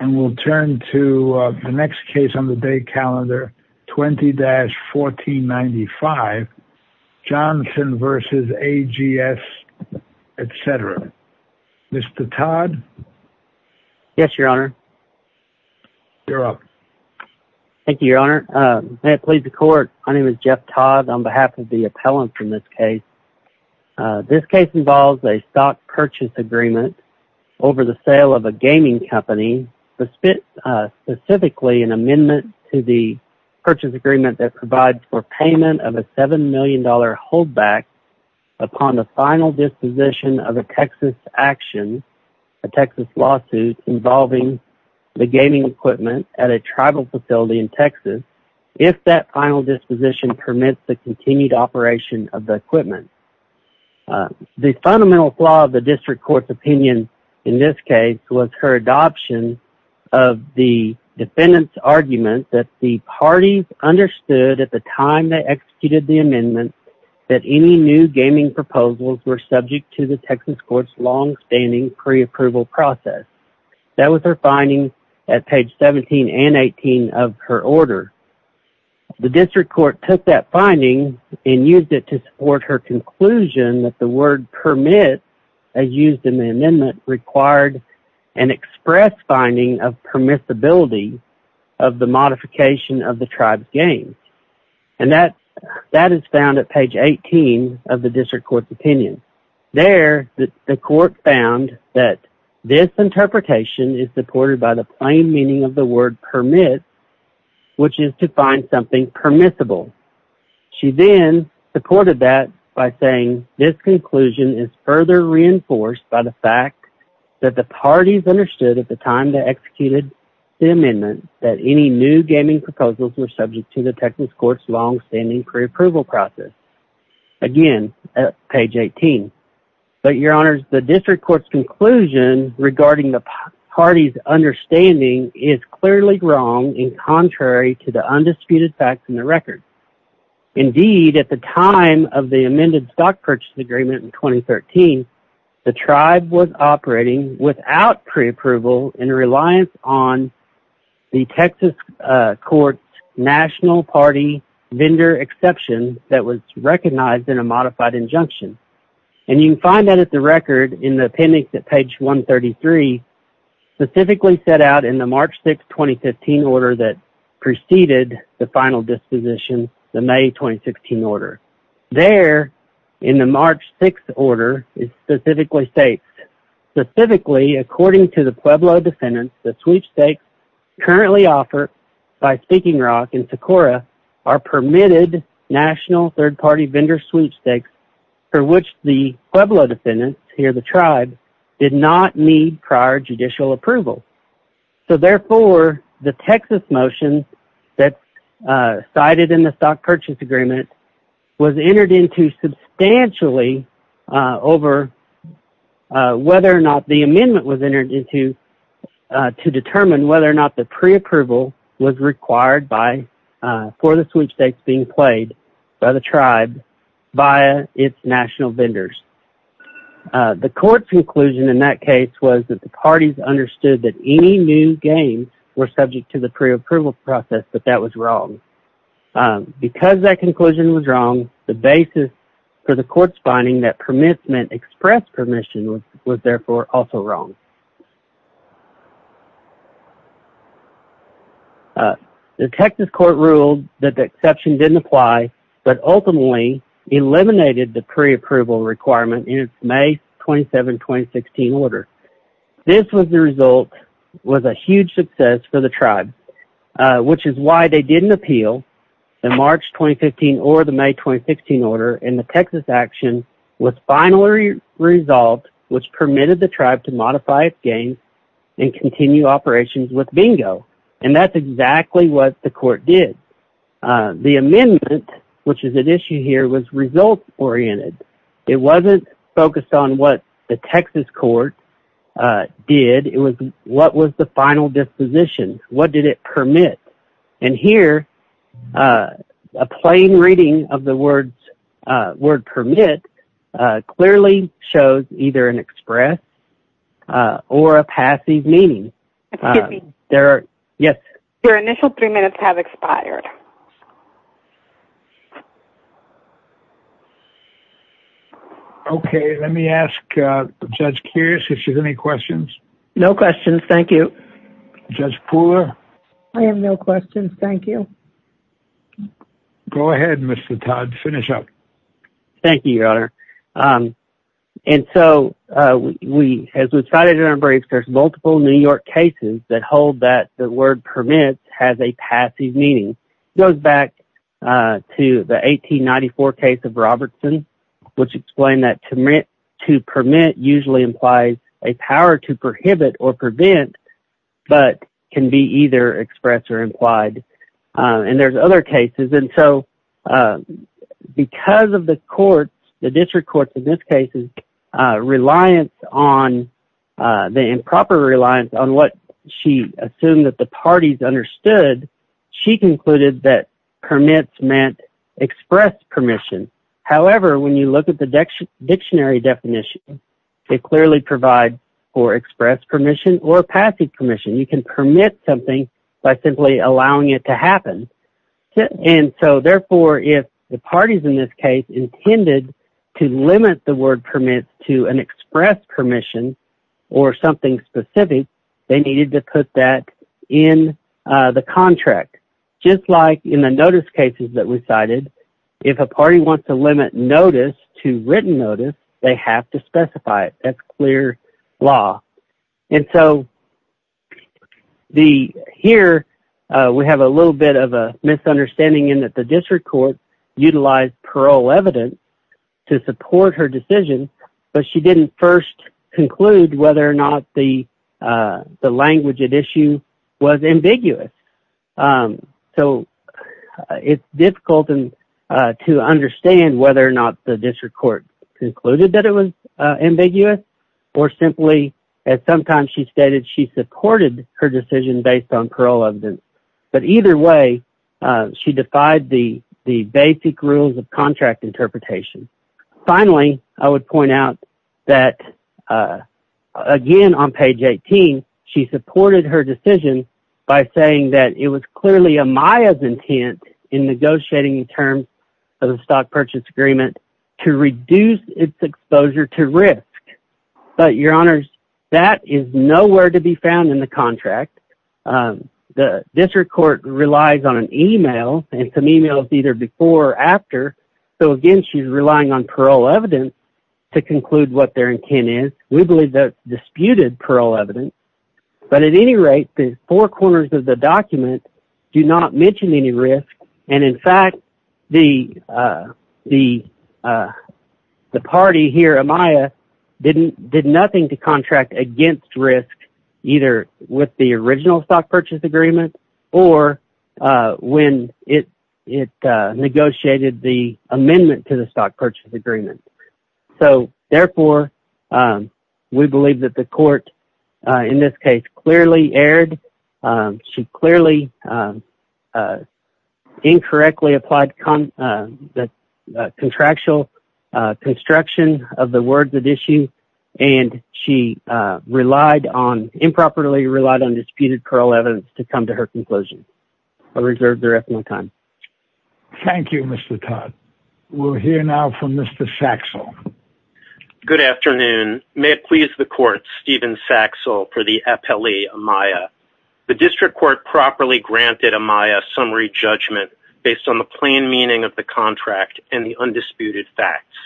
and we'll turn to the next case on the day calendar 20-1495 Johnson v. AGS, etc. Mr. Todd? Yes, your honor. You're up. Thank you, your honor. May it please the court, my name is Jeff Todd on behalf of the appellant in this case. This case involves a stock purchase agreement over the sale of a gaming company, specifically an amendment to the purchase agreement that provides for payment of a $7 million hold back upon the final disposition of a Texas action, a Texas lawsuit involving the gaming equipment at a tribal facility in Texas, if that final disposition permits the continued operation of the equipment. The fundamental flaw of the district court's opinion in this case was her adoption of the defendant's argument that the parties understood at the time they executed the amendment that any new gaming proposals were subject to the Texas court's long-standing pre-approval process. That was her finding at page 17 and 18 of her order. The district court took that finding and used it to support her conclusion that the word permit, as used in the amendment, required an express finding of permissibility of the modification of the tribe's games. And that is found at page 18 of the district court's opinion. There, the court found that this interpretation is supported by the plain meaning of the word permit, which is to find something permissible. She then supported that by saying, this conclusion is further reinforced by the fact that the parties understood at the time they executed the amendment that any new gaming proposals were subject to the Texas court's long-standing pre-approval process. Again, at page 18. But your honors, the district court's conclusion regarding the parties' understanding is clearly wrong and contrary to the undisputed facts in the record. Indeed, at the time of the amended stock purchase agreement in 2013, the tribe was operating without pre-approval in reliance on the Texas court's national party vendor exception that was recognized in a modified injunction. And you can find that at the record in the appendix at page 133, specifically set out in the March 6, 2015 order that preceded the final disposition, the May 2016 order. There, in the March 6 order, it specifically states, specifically according to the Pueblo defendants, that sweepstakes currently offered by Speaking Rock and Socorro are permitted national third-party vendor sweepstakes for which the Pueblo defendants, here the tribe, did not need prior judicial approval. So therefore, the Texas motion that's cited in the stock purchase agreement was entered into substantially over whether or not the amendment was entered into to determine whether or not the pre-approval was required for the sweepstakes being played by the tribe via its national vendors. The court's conclusion in that case was that the parties understood that any new gains were subject to the pre-approval process, but that was wrong. Because that conclusion was wrong, the basis for the court's finding that permissment expressed permission was therefore also wrong. The Texas court ruled that the exception didn't apply, but ultimately eliminated the pre-approval requirement in its May 27, 2016 order. This was the result, was a huge success for the tribe, which is why they didn't appeal the March 2015 or the May 2016 order, and the Texas action was finally resolved, which permitted the tribe to modify its gains and continue operations with bingo. And that's exactly what the court did. The amendment, which is at issue here, was result-oriented. It wasn't focused on what the Texas court did. It was what was the final disposition. What did it permit? And here, a plain reading of the word permit clearly shows either an express or a passive meaning. Excuse me. Yes. Your initial three minutes have expired. Okay. Let me ask Judge Kears if she has any questions. No questions. Thank you. Judge Pooler? I have no questions. Thank you. Go ahead, Mr. Todd. Finish up. Thank you, Your Honor. And so, as was cited in our briefs, there's multiple New York cases that hold that the word permit has a passive meaning. It goes back to the 1894 case of Robertson, which explained that to permit usually implies a power to prohibit or prevent, but can be either expressed or implied. And there's other cases. And so, because of the courts, the district courts in this case, reliance on the improper reliance on what she assumed that the parties understood, she concluded that permits meant express permission. However, when you look at the dictionary definition, it clearly provides for express permission or passive permission. You can permit something by simply allowing it to happen. And so, therefore, if the parties in this case intended to limit the word permit to an express permission or something specific, they needed to put that in the contract. Just like in the notice cases that we cited, if a party wants to limit notice to written notice, they have to specify it. That's clear law. And so, here we have a little bit of a misunderstanding in that the district courts utilized parole evidence to support her decision, but she didn't first conclude whether or not the language at issue was ambiguous. So, it's difficult to understand whether or not the district court concluded that it was ambiguous or simply, as sometimes she stated, she supported her decision based on parole evidence. But either way, she defied the basic rules of contract interpretation. Finally, I would point out that, again, on page 18, she supported her decision by saying that it was clearly Amaya's intent in negotiating in terms of the stock purchase agreement to reduce its exposure to risk. But, Your Honors, that is nowhere to be found in the contract. The district court relies on an email and some emails either before or after. So, again, she's relying on parole evidence to conclude what their intent is. We believe there's disputed parole evidence. But, at any rate, the four corners of the document do not mention any risk. And, in fact, the party here, Amaya, did nothing to contract against risk either with the original stock purchase agreement or when it negotiated the amendment to the stock purchase agreement. So, therefore, we believe that the court, in this case, clearly erred. She clearly incorrectly applied the contractual construction of the words at issue. And she improperly relied on disputed parole evidence to come to her conclusion. I reserve the rest of my time. Thank you, Mr. Todd. We'll hear now from Mr. Saxel. Good afternoon. May it please the court, Stephen Saxel for the appellee, Amaya. The district court properly granted Amaya summary judgment based on the plain meaning of the contract and the undisputed facts.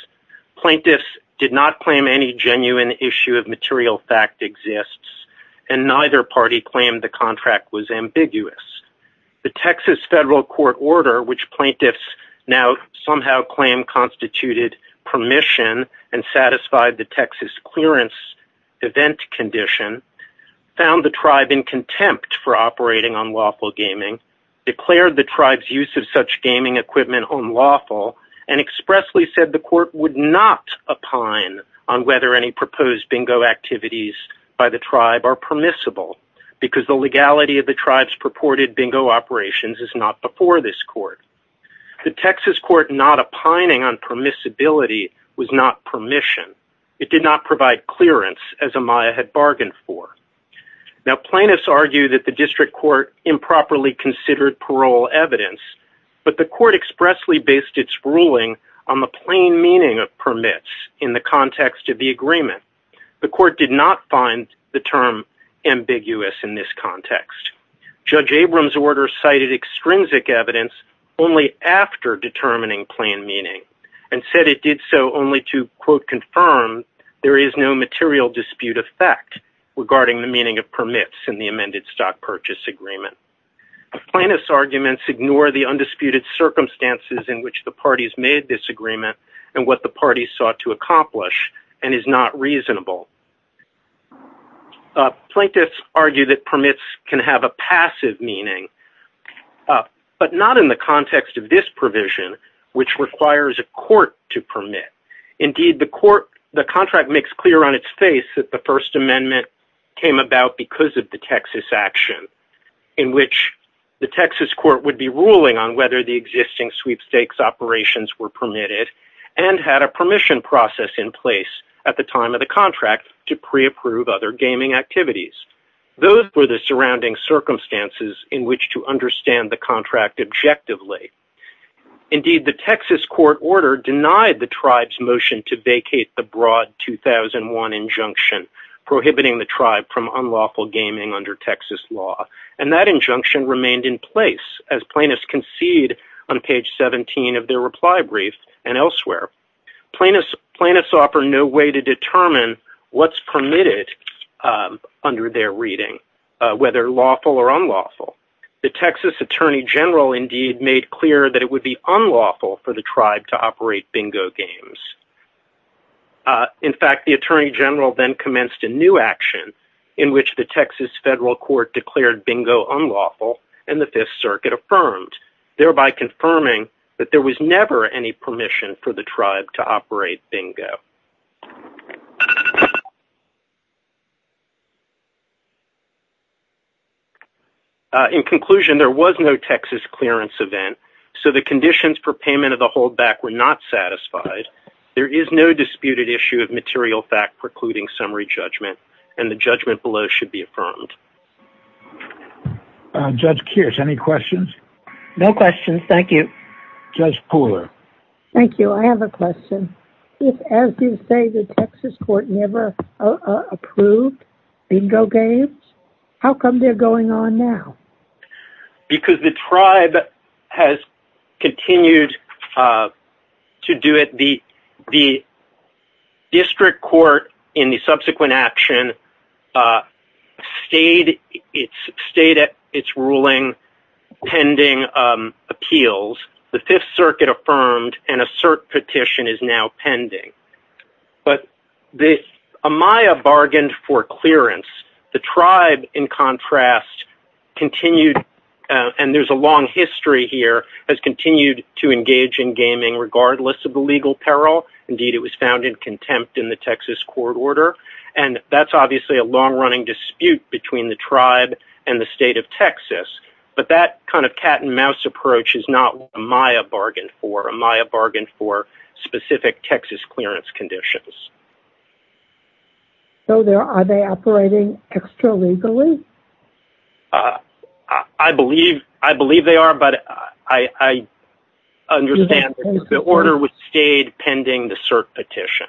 Plaintiffs did not claim any genuine issue of material fact exists. And neither party claimed the contract was ambiguous. The Texas federal court order, which plaintiffs now somehow claim constituted permission and satisfied the Texas clearance event condition, found the tribe in contempt for operating on lawful gaming, declared the tribe's use of such gaming equipment unlawful, and expressly said the court would not opine on whether any proposed bingo activities by the tribe are permissible because the legality of the tribe's purported bingo operations is not before this court. The Texas court not opining on permissibility was not permission. It did not provide clearance, as Amaya had bargained for. Now, plaintiffs argue that the district court improperly considered parole evidence, but the court expressly based its ruling on the plain meaning of permits in the context of the agreement. The court did not find the term ambiguous in this context. Judge Abrams' order cited extrinsic evidence only after determining plain meaning and said it did so only to, quote, confirm there is no material dispute of fact regarding the meaning of permits in the amended stock purchase agreement. Plaintiffs' arguments ignore the undisputed circumstances in which the parties made this agreement and what the parties sought to accomplish and is not reasonable. Plaintiffs argue that permits can have a passive meaning, but not in the context of this provision, which requires a court to permit. Indeed, the court, the contract makes clear on its face that the First Amendment came about because of the Texas action in which the Texas court would be ruling on whether the existing sweepstakes operations were permitted and had a permission process in place at the time of the contract to pre-approve other gaming activities. Those were the surrounding circumstances in which to understand the contract objectively. Indeed, the Texas court order denied the tribe's motion to vacate the broad 2001 injunction prohibiting the tribe from unlawful gaming under Texas law, and that injunction remained in place as plaintiffs concede on page 17 of their reply brief and elsewhere. Plaintiffs offer no way to determine what's permitted under their reading, whether lawful or unlawful. The Texas attorney general, indeed, made clear that it would be unlawful for the tribe to operate bingo games. In fact, the attorney general then commenced a new action in which the Texas federal court declared bingo unlawful and the Fifth Circuit affirmed, thereby confirming that there was never any permission for the tribe to operate bingo. In conclusion, there was no Texas clearance event, so the conditions for payment of the holdback were not satisfied. There is no disputed issue of material fact precluding summary judgment, and the judgment below should be affirmed. Judge Kears, any questions? No questions. Thank you. Judge Pooler. Thank you. I have a question. If, as you say, the Texas court never approved bingo games, how come they're going on now? Because the tribe has continued to do it. The district court, in the subsequent action, stayed at its ruling, pending appeals. The Fifth Circuit affirmed, and a cert petition is now pending. But Amaya bargained for clearance. The tribe, in contrast, continued, and there's a long history here, has continued to engage in gaming regardless of the legal peril. Indeed, it was found in contempt in the Texas court order. And that's obviously a long-running dispute between the tribe and the state of Texas. But that kind of cat-and-mouse approach is not what Amaya bargained for. Amaya bargained for specific Texas clearance conditions. So are they operating extra-legally? I believe they are, but I understand the order stayed pending the cert petition,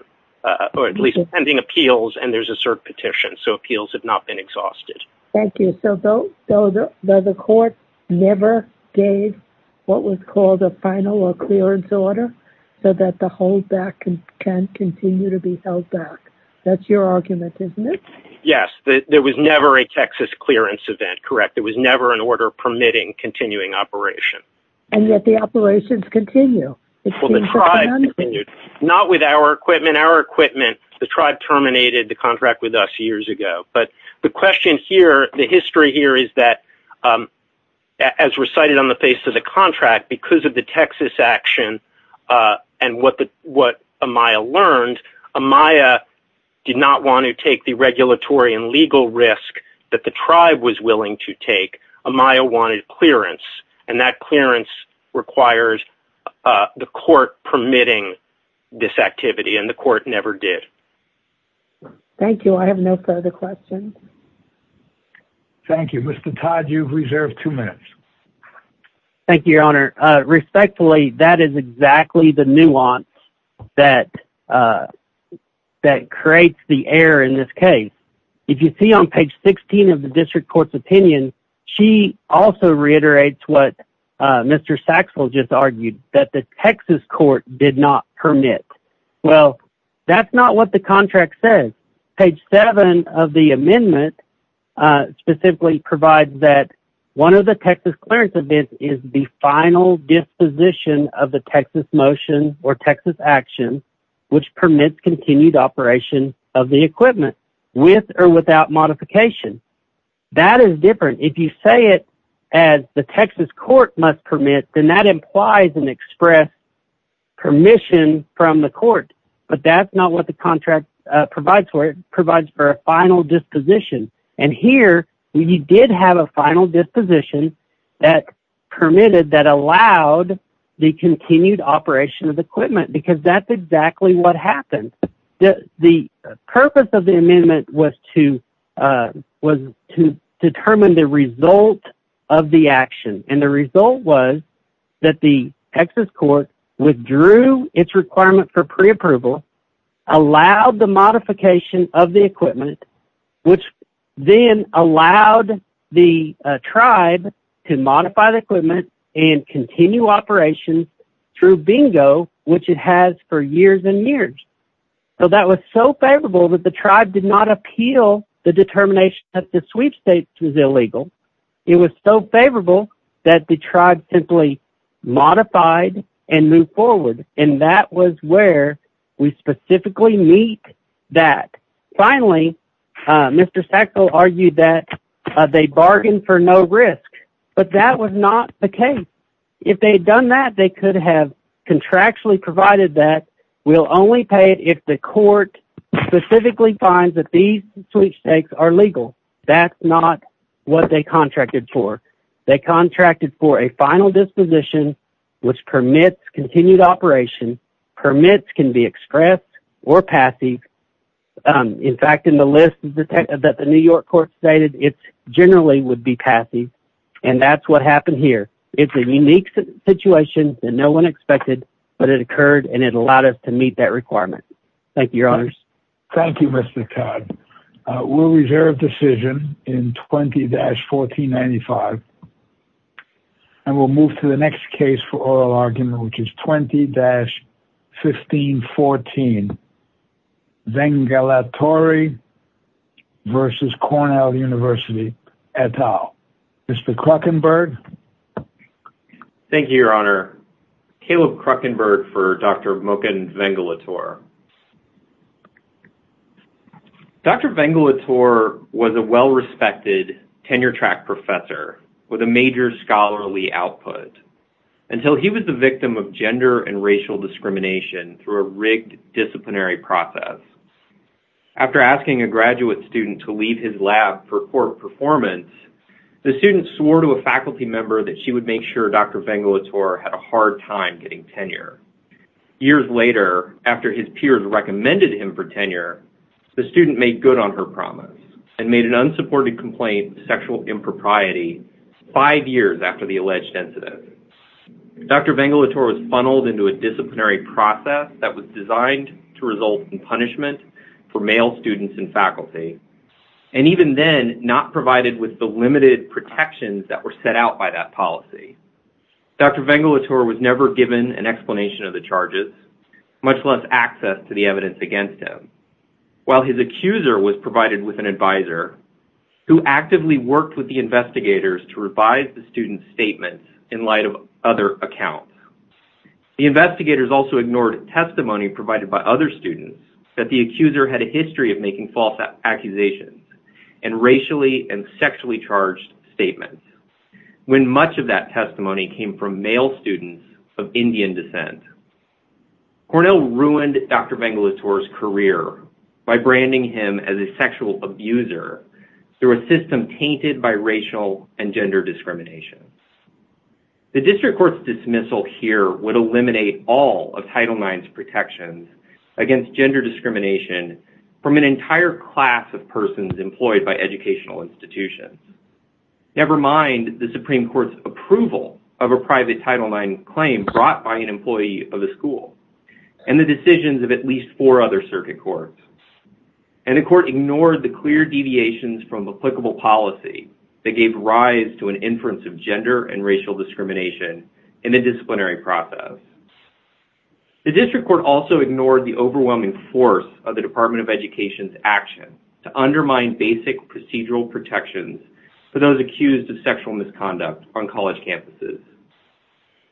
or at least pending appeals, and there's a cert petition. So appeals have not been exhausted. Thank you. So the court never gave what was called a final or clearance order so that the holdback can continue to be held back. That's your argument, isn't it? Yes. There was never a Texas clearance event, correct. There was never an order permitting continuing operation. And yet the operations continue. Well, the tribe continued. Not with our equipment. Our equipment, the tribe terminated the contract with us years ago. But the question here, the history here is that, as recited on the face of the contract, because of the Texas action and what Amaya learned, Amaya did not want to take the regulatory and legal risk that the tribe was willing to take. Amaya wanted clearance, and that clearance requires the court permitting this activity, and the court never did. Thank you. I have no further questions. Thank you. Mr. Todd, you've reserved two minutes. Thank you, Your Honor. Respectfully, that is exactly the nuance that creates the error in this case. If you see on page 16 of the district court's opinion, she also reiterates what Mr. Saxel just argued, that the Texas court did not permit. Well, that's not what the contract says. Page 7 of the amendment specifically provides that one of the Texas clearance events is the final disposition of the Texas motion or Texas action which permits continued operation of the equipment, with or without modification. That is different. If you say it as the Texas court must permit, then that implies an express permission from the court. But that's not what the contract provides for. It provides for a final disposition. And here, you did have a final disposition that permitted, that allowed the continued operation of the equipment, because that's exactly what happened. The purpose of the amendment was to determine the result of the action, and the result was that the Texas court withdrew its requirement for preapproval, allowed the modification of the equipment, which then allowed the tribe to modify the equipment and continue operations through bingo, which it has for years and years. So that was so favorable that the tribe did not appeal the determination that the sweepstakes was illegal. It was so favorable that the tribe simply modified and moved forward, and that was where we specifically meet that. Finally, Mr. Sackville argued that they bargained for no risk, but that was not the case. If they had done that, they could have contractually provided that we'll only pay it if the court specifically finds that these sweepstakes are legal. That's not what they contracted for. They contracted for a final disposition, which permits continued operation. Permits can be expressed or passive. In fact, in the list that the New York court stated, it generally would be passive, and that's what happened here. It's a unique situation that no one expected, but it occurred, and it allowed us to meet that requirement. Thank you, Your Honors. Thank you, Mr. Todd. We'll reserve decision in 20-1495, and we'll move to the next case for oral argument, which is 20-1514, Vengalatori v. Cornell University et al. Mr. Kruckenberg. Thank you, Your Honor. Thank you, Your Honor. Caleb Kruckenberg for Dr. Moken Vengalatori. Dr. Vengalatori was a well-respected tenure-track professor with a major scholarly output until he was the victim of gender and racial discrimination through a rigged disciplinary process. After asking a graduate student to leave his lab for court performance, the student swore to a faculty member that she would make sure Dr. Vengalatori had a hard time getting tenure. Years later, after his peers recommended him for tenure, the student made good on her promise and made an unsupported complaint of sexual impropriety five years after the alleged incident. Dr. Vengalatori was funneled into a disciplinary process that was designed to result in punishment for male students and faculty, and even then not provided with the limited protections that were set out by that policy. Dr. Vengalatori was never given an explanation of the charges, much less access to the evidence against him, while his accuser was provided with an advisor who actively worked with the investigators to revise the student's statements in light of other accounts. The investigators also ignored testimony provided by other students that the accuser had a history of making false accusations and racially and sexually charged statements, when much of that testimony came from male students of Indian descent. Cornell ruined Dr. Vengalatori's career by branding him as a sexual abuser through a system tainted by racial and gender discrimination. The district court's dismissal here would eliminate all of Title IX's protections against gender discrimination from an entire class of persons employed by educational institutions, never mind the Supreme Court's approval of a private Title IX claim brought by an employee of the school and the decisions of at least four other circuit courts. And the court ignored the clear deviations from applicable policy that gave rise to an inference of gender and racial discrimination in the disciplinary process. The district court also ignored the overwhelming force of the Department of Education's action to undermine basic procedural protections for those accused of sexual misconduct on college campuses.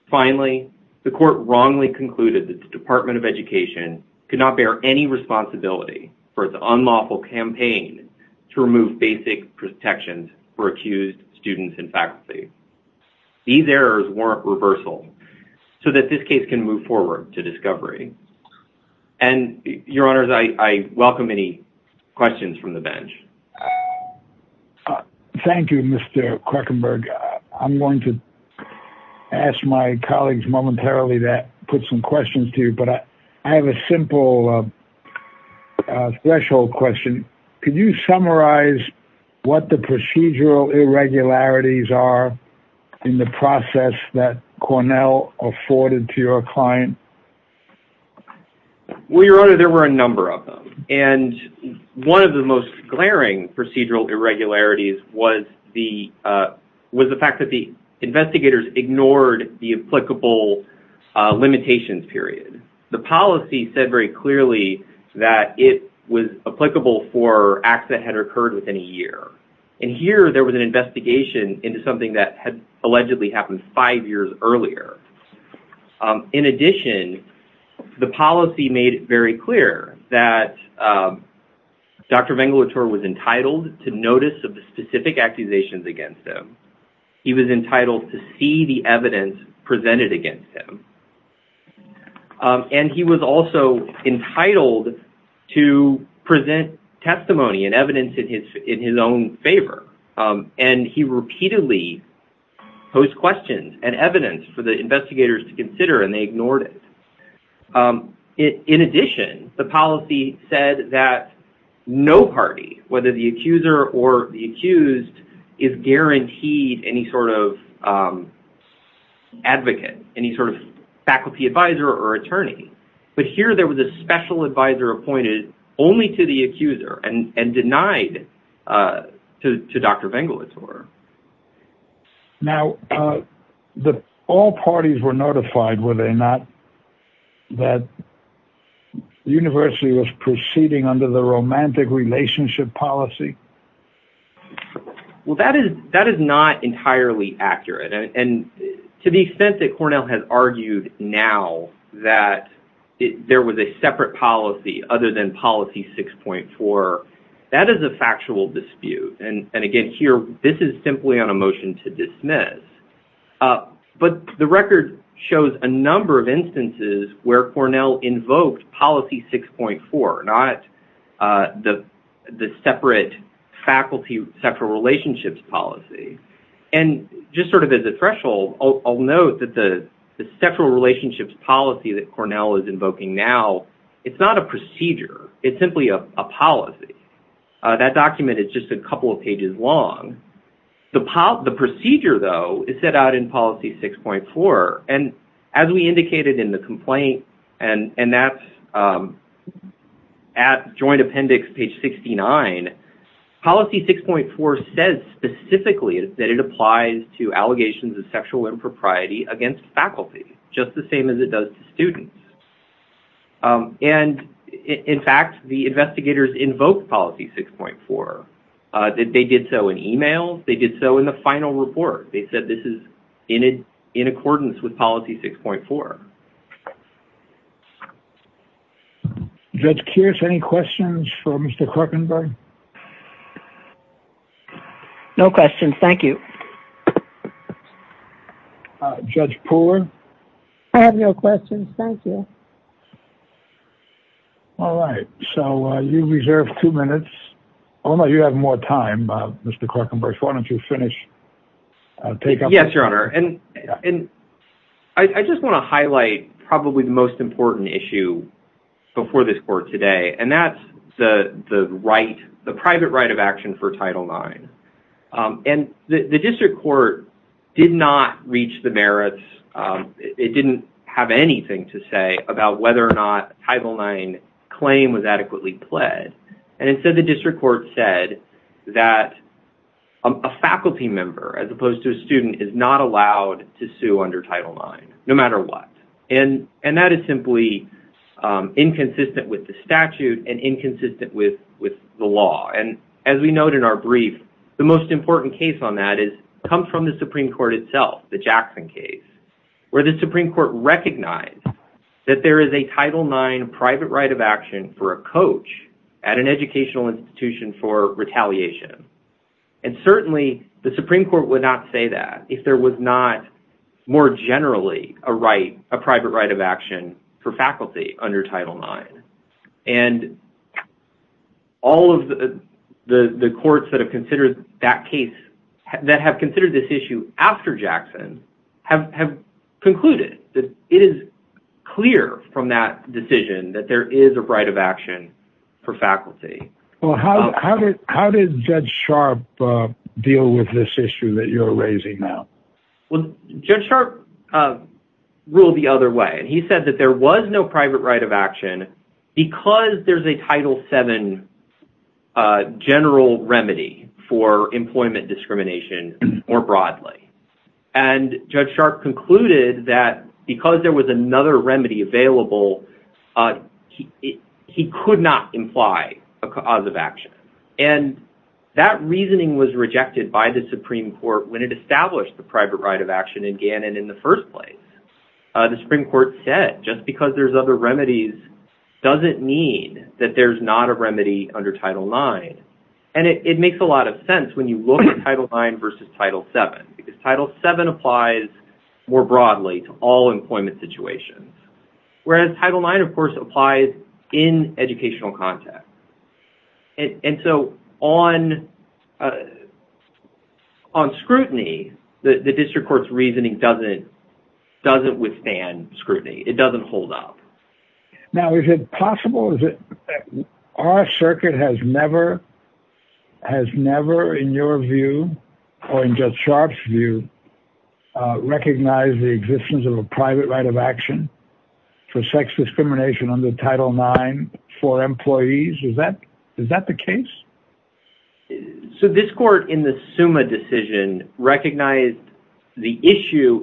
Finally, the court wrongly concluded that the Department of Education could not bear any responsibility for its unlawful campaign to remove basic protections for accused students and faculty. These errors warrant reversal so that this case can move forward to discovery. And, Your Honors, I welcome any questions from the bench. Thank you, Mr. Krekenberg. I'm going to ask my colleagues momentarily to put some questions to you, but I have a simple threshold question. Could you summarize what the procedural irregularities are in the process that Cornell afforded to your client? Well, Your Honor, there were a number of them. And one of the most glaring procedural irregularities was the fact that the investigators ignored the applicable limitations period. The policy said very clearly that it was applicable for acts that had occurred within a year. And here there was an investigation into something that had allegedly happened five years earlier. In addition, the policy made it very clear that Dr. Vengelator was entitled to notice of the specific accusations against him. He was entitled to see the evidence presented against him. And he was also entitled to present testimony and evidence in his own favor. And he repeatedly posed questions and evidence for the investigators to consider, and they ignored it. In addition, the policy said that no party, whether the accuser or the accused, is guaranteed any sort of advocate, any sort of faculty advisor or attorney. But here there was a special advisor appointed only to the accuser and denied to Dr. Vengelator. Now, all parties were notified, were they not, that the university was proceeding under the romantic relationship policy? Well, that is not entirely accurate. And to the extent that Cornell has argued now that there was a separate policy other than policy 6.4, that is a factual dispute. And again, here this is simply on a motion to dismiss. But the record shows a number of instances where Cornell invoked policy 6.4, not the separate faculty sexual relationships policy. And just sort of as a threshold, I'll note that the sexual relationships policy that Cornell is invoking now, it's not a procedure. It's simply a policy. That document is just a couple of pages long. The procedure, though, is set out in policy 6.4. And as we indicated in the complaint, and that's at joint appendix page 69, policy 6.4 says specifically that it applies to allegations of sexual impropriety against faculty, just the same as it does to students. And in fact, the investigators invoked policy 6.4. They did so in e-mails. They did so in the final report. They said this is in accordance with policy 6.4. Judge Kearse, any questions for Mr. Korkenberg? No questions. Thank you. Judge Pooler? I have no questions. Thank you. All right. So you reserve two minutes. Omar, you have more time. Mr. Korkenberg, why don't you finish? Yes, Your Honor. And I just want to highlight probably the most important issue before this court today. And that's the right, the private right of action for Title IX. And the district court did not reach the merits. It didn't have anything to say about whether or not Title IX claim was adequately pled. And instead, the district court said that a faculty member, as opposed to a student, is not allowed to sue under Title IX, no matter what. And that is simply inconsistent with the statute and inconsistent with the law. And as we note in our brief, the most important case on that comes from the Supreme Court itself, the Jackson case, where the Supreme Court recognized that there is a Title IX private right of action for a coach at an educational institution for retaliation. And certainly, the Supreme Court would not say that if there was not more generally a right, a private right of action for faculty under Title IX. And all of the courts that have considered that case, that have considered this issue after Jackson, have concluded that it is clear from that decision that there is a right of action for faculty. Well, how did Judge Sharp deal with this issue that you're raising now? Well, Judge Sharp ruled the other way. He said that there was no private right of action because there's a Title VII general remedy for employment discrimination more broadly. And Judge Sharp concluded that because there was another remedy available, he could not imply a cause of action. And that reasoning was rejected by the Supreme Court when it established the private right of action in Gannon in the first place. The Supreme Court said just because there's other remedies doesn't mean that there's not a remedy under Title IX. And it makes a lot of sense when you look at Title IX versus Title VII because Title VII applies more broadly to all employment situations, whereas Title IX, of course, applies in educational context. And so on scrutiny, the district court's reasoning doesn't withstand scrutiny. It doesn't hold up. Now, is it possible? Our circuit has never, in your view or in Judge Sharp's view, recognized the existence of a private right of action for sex discrimination under Title IX for employees. Is that the case? So this court in the SUMA decision recognized the issue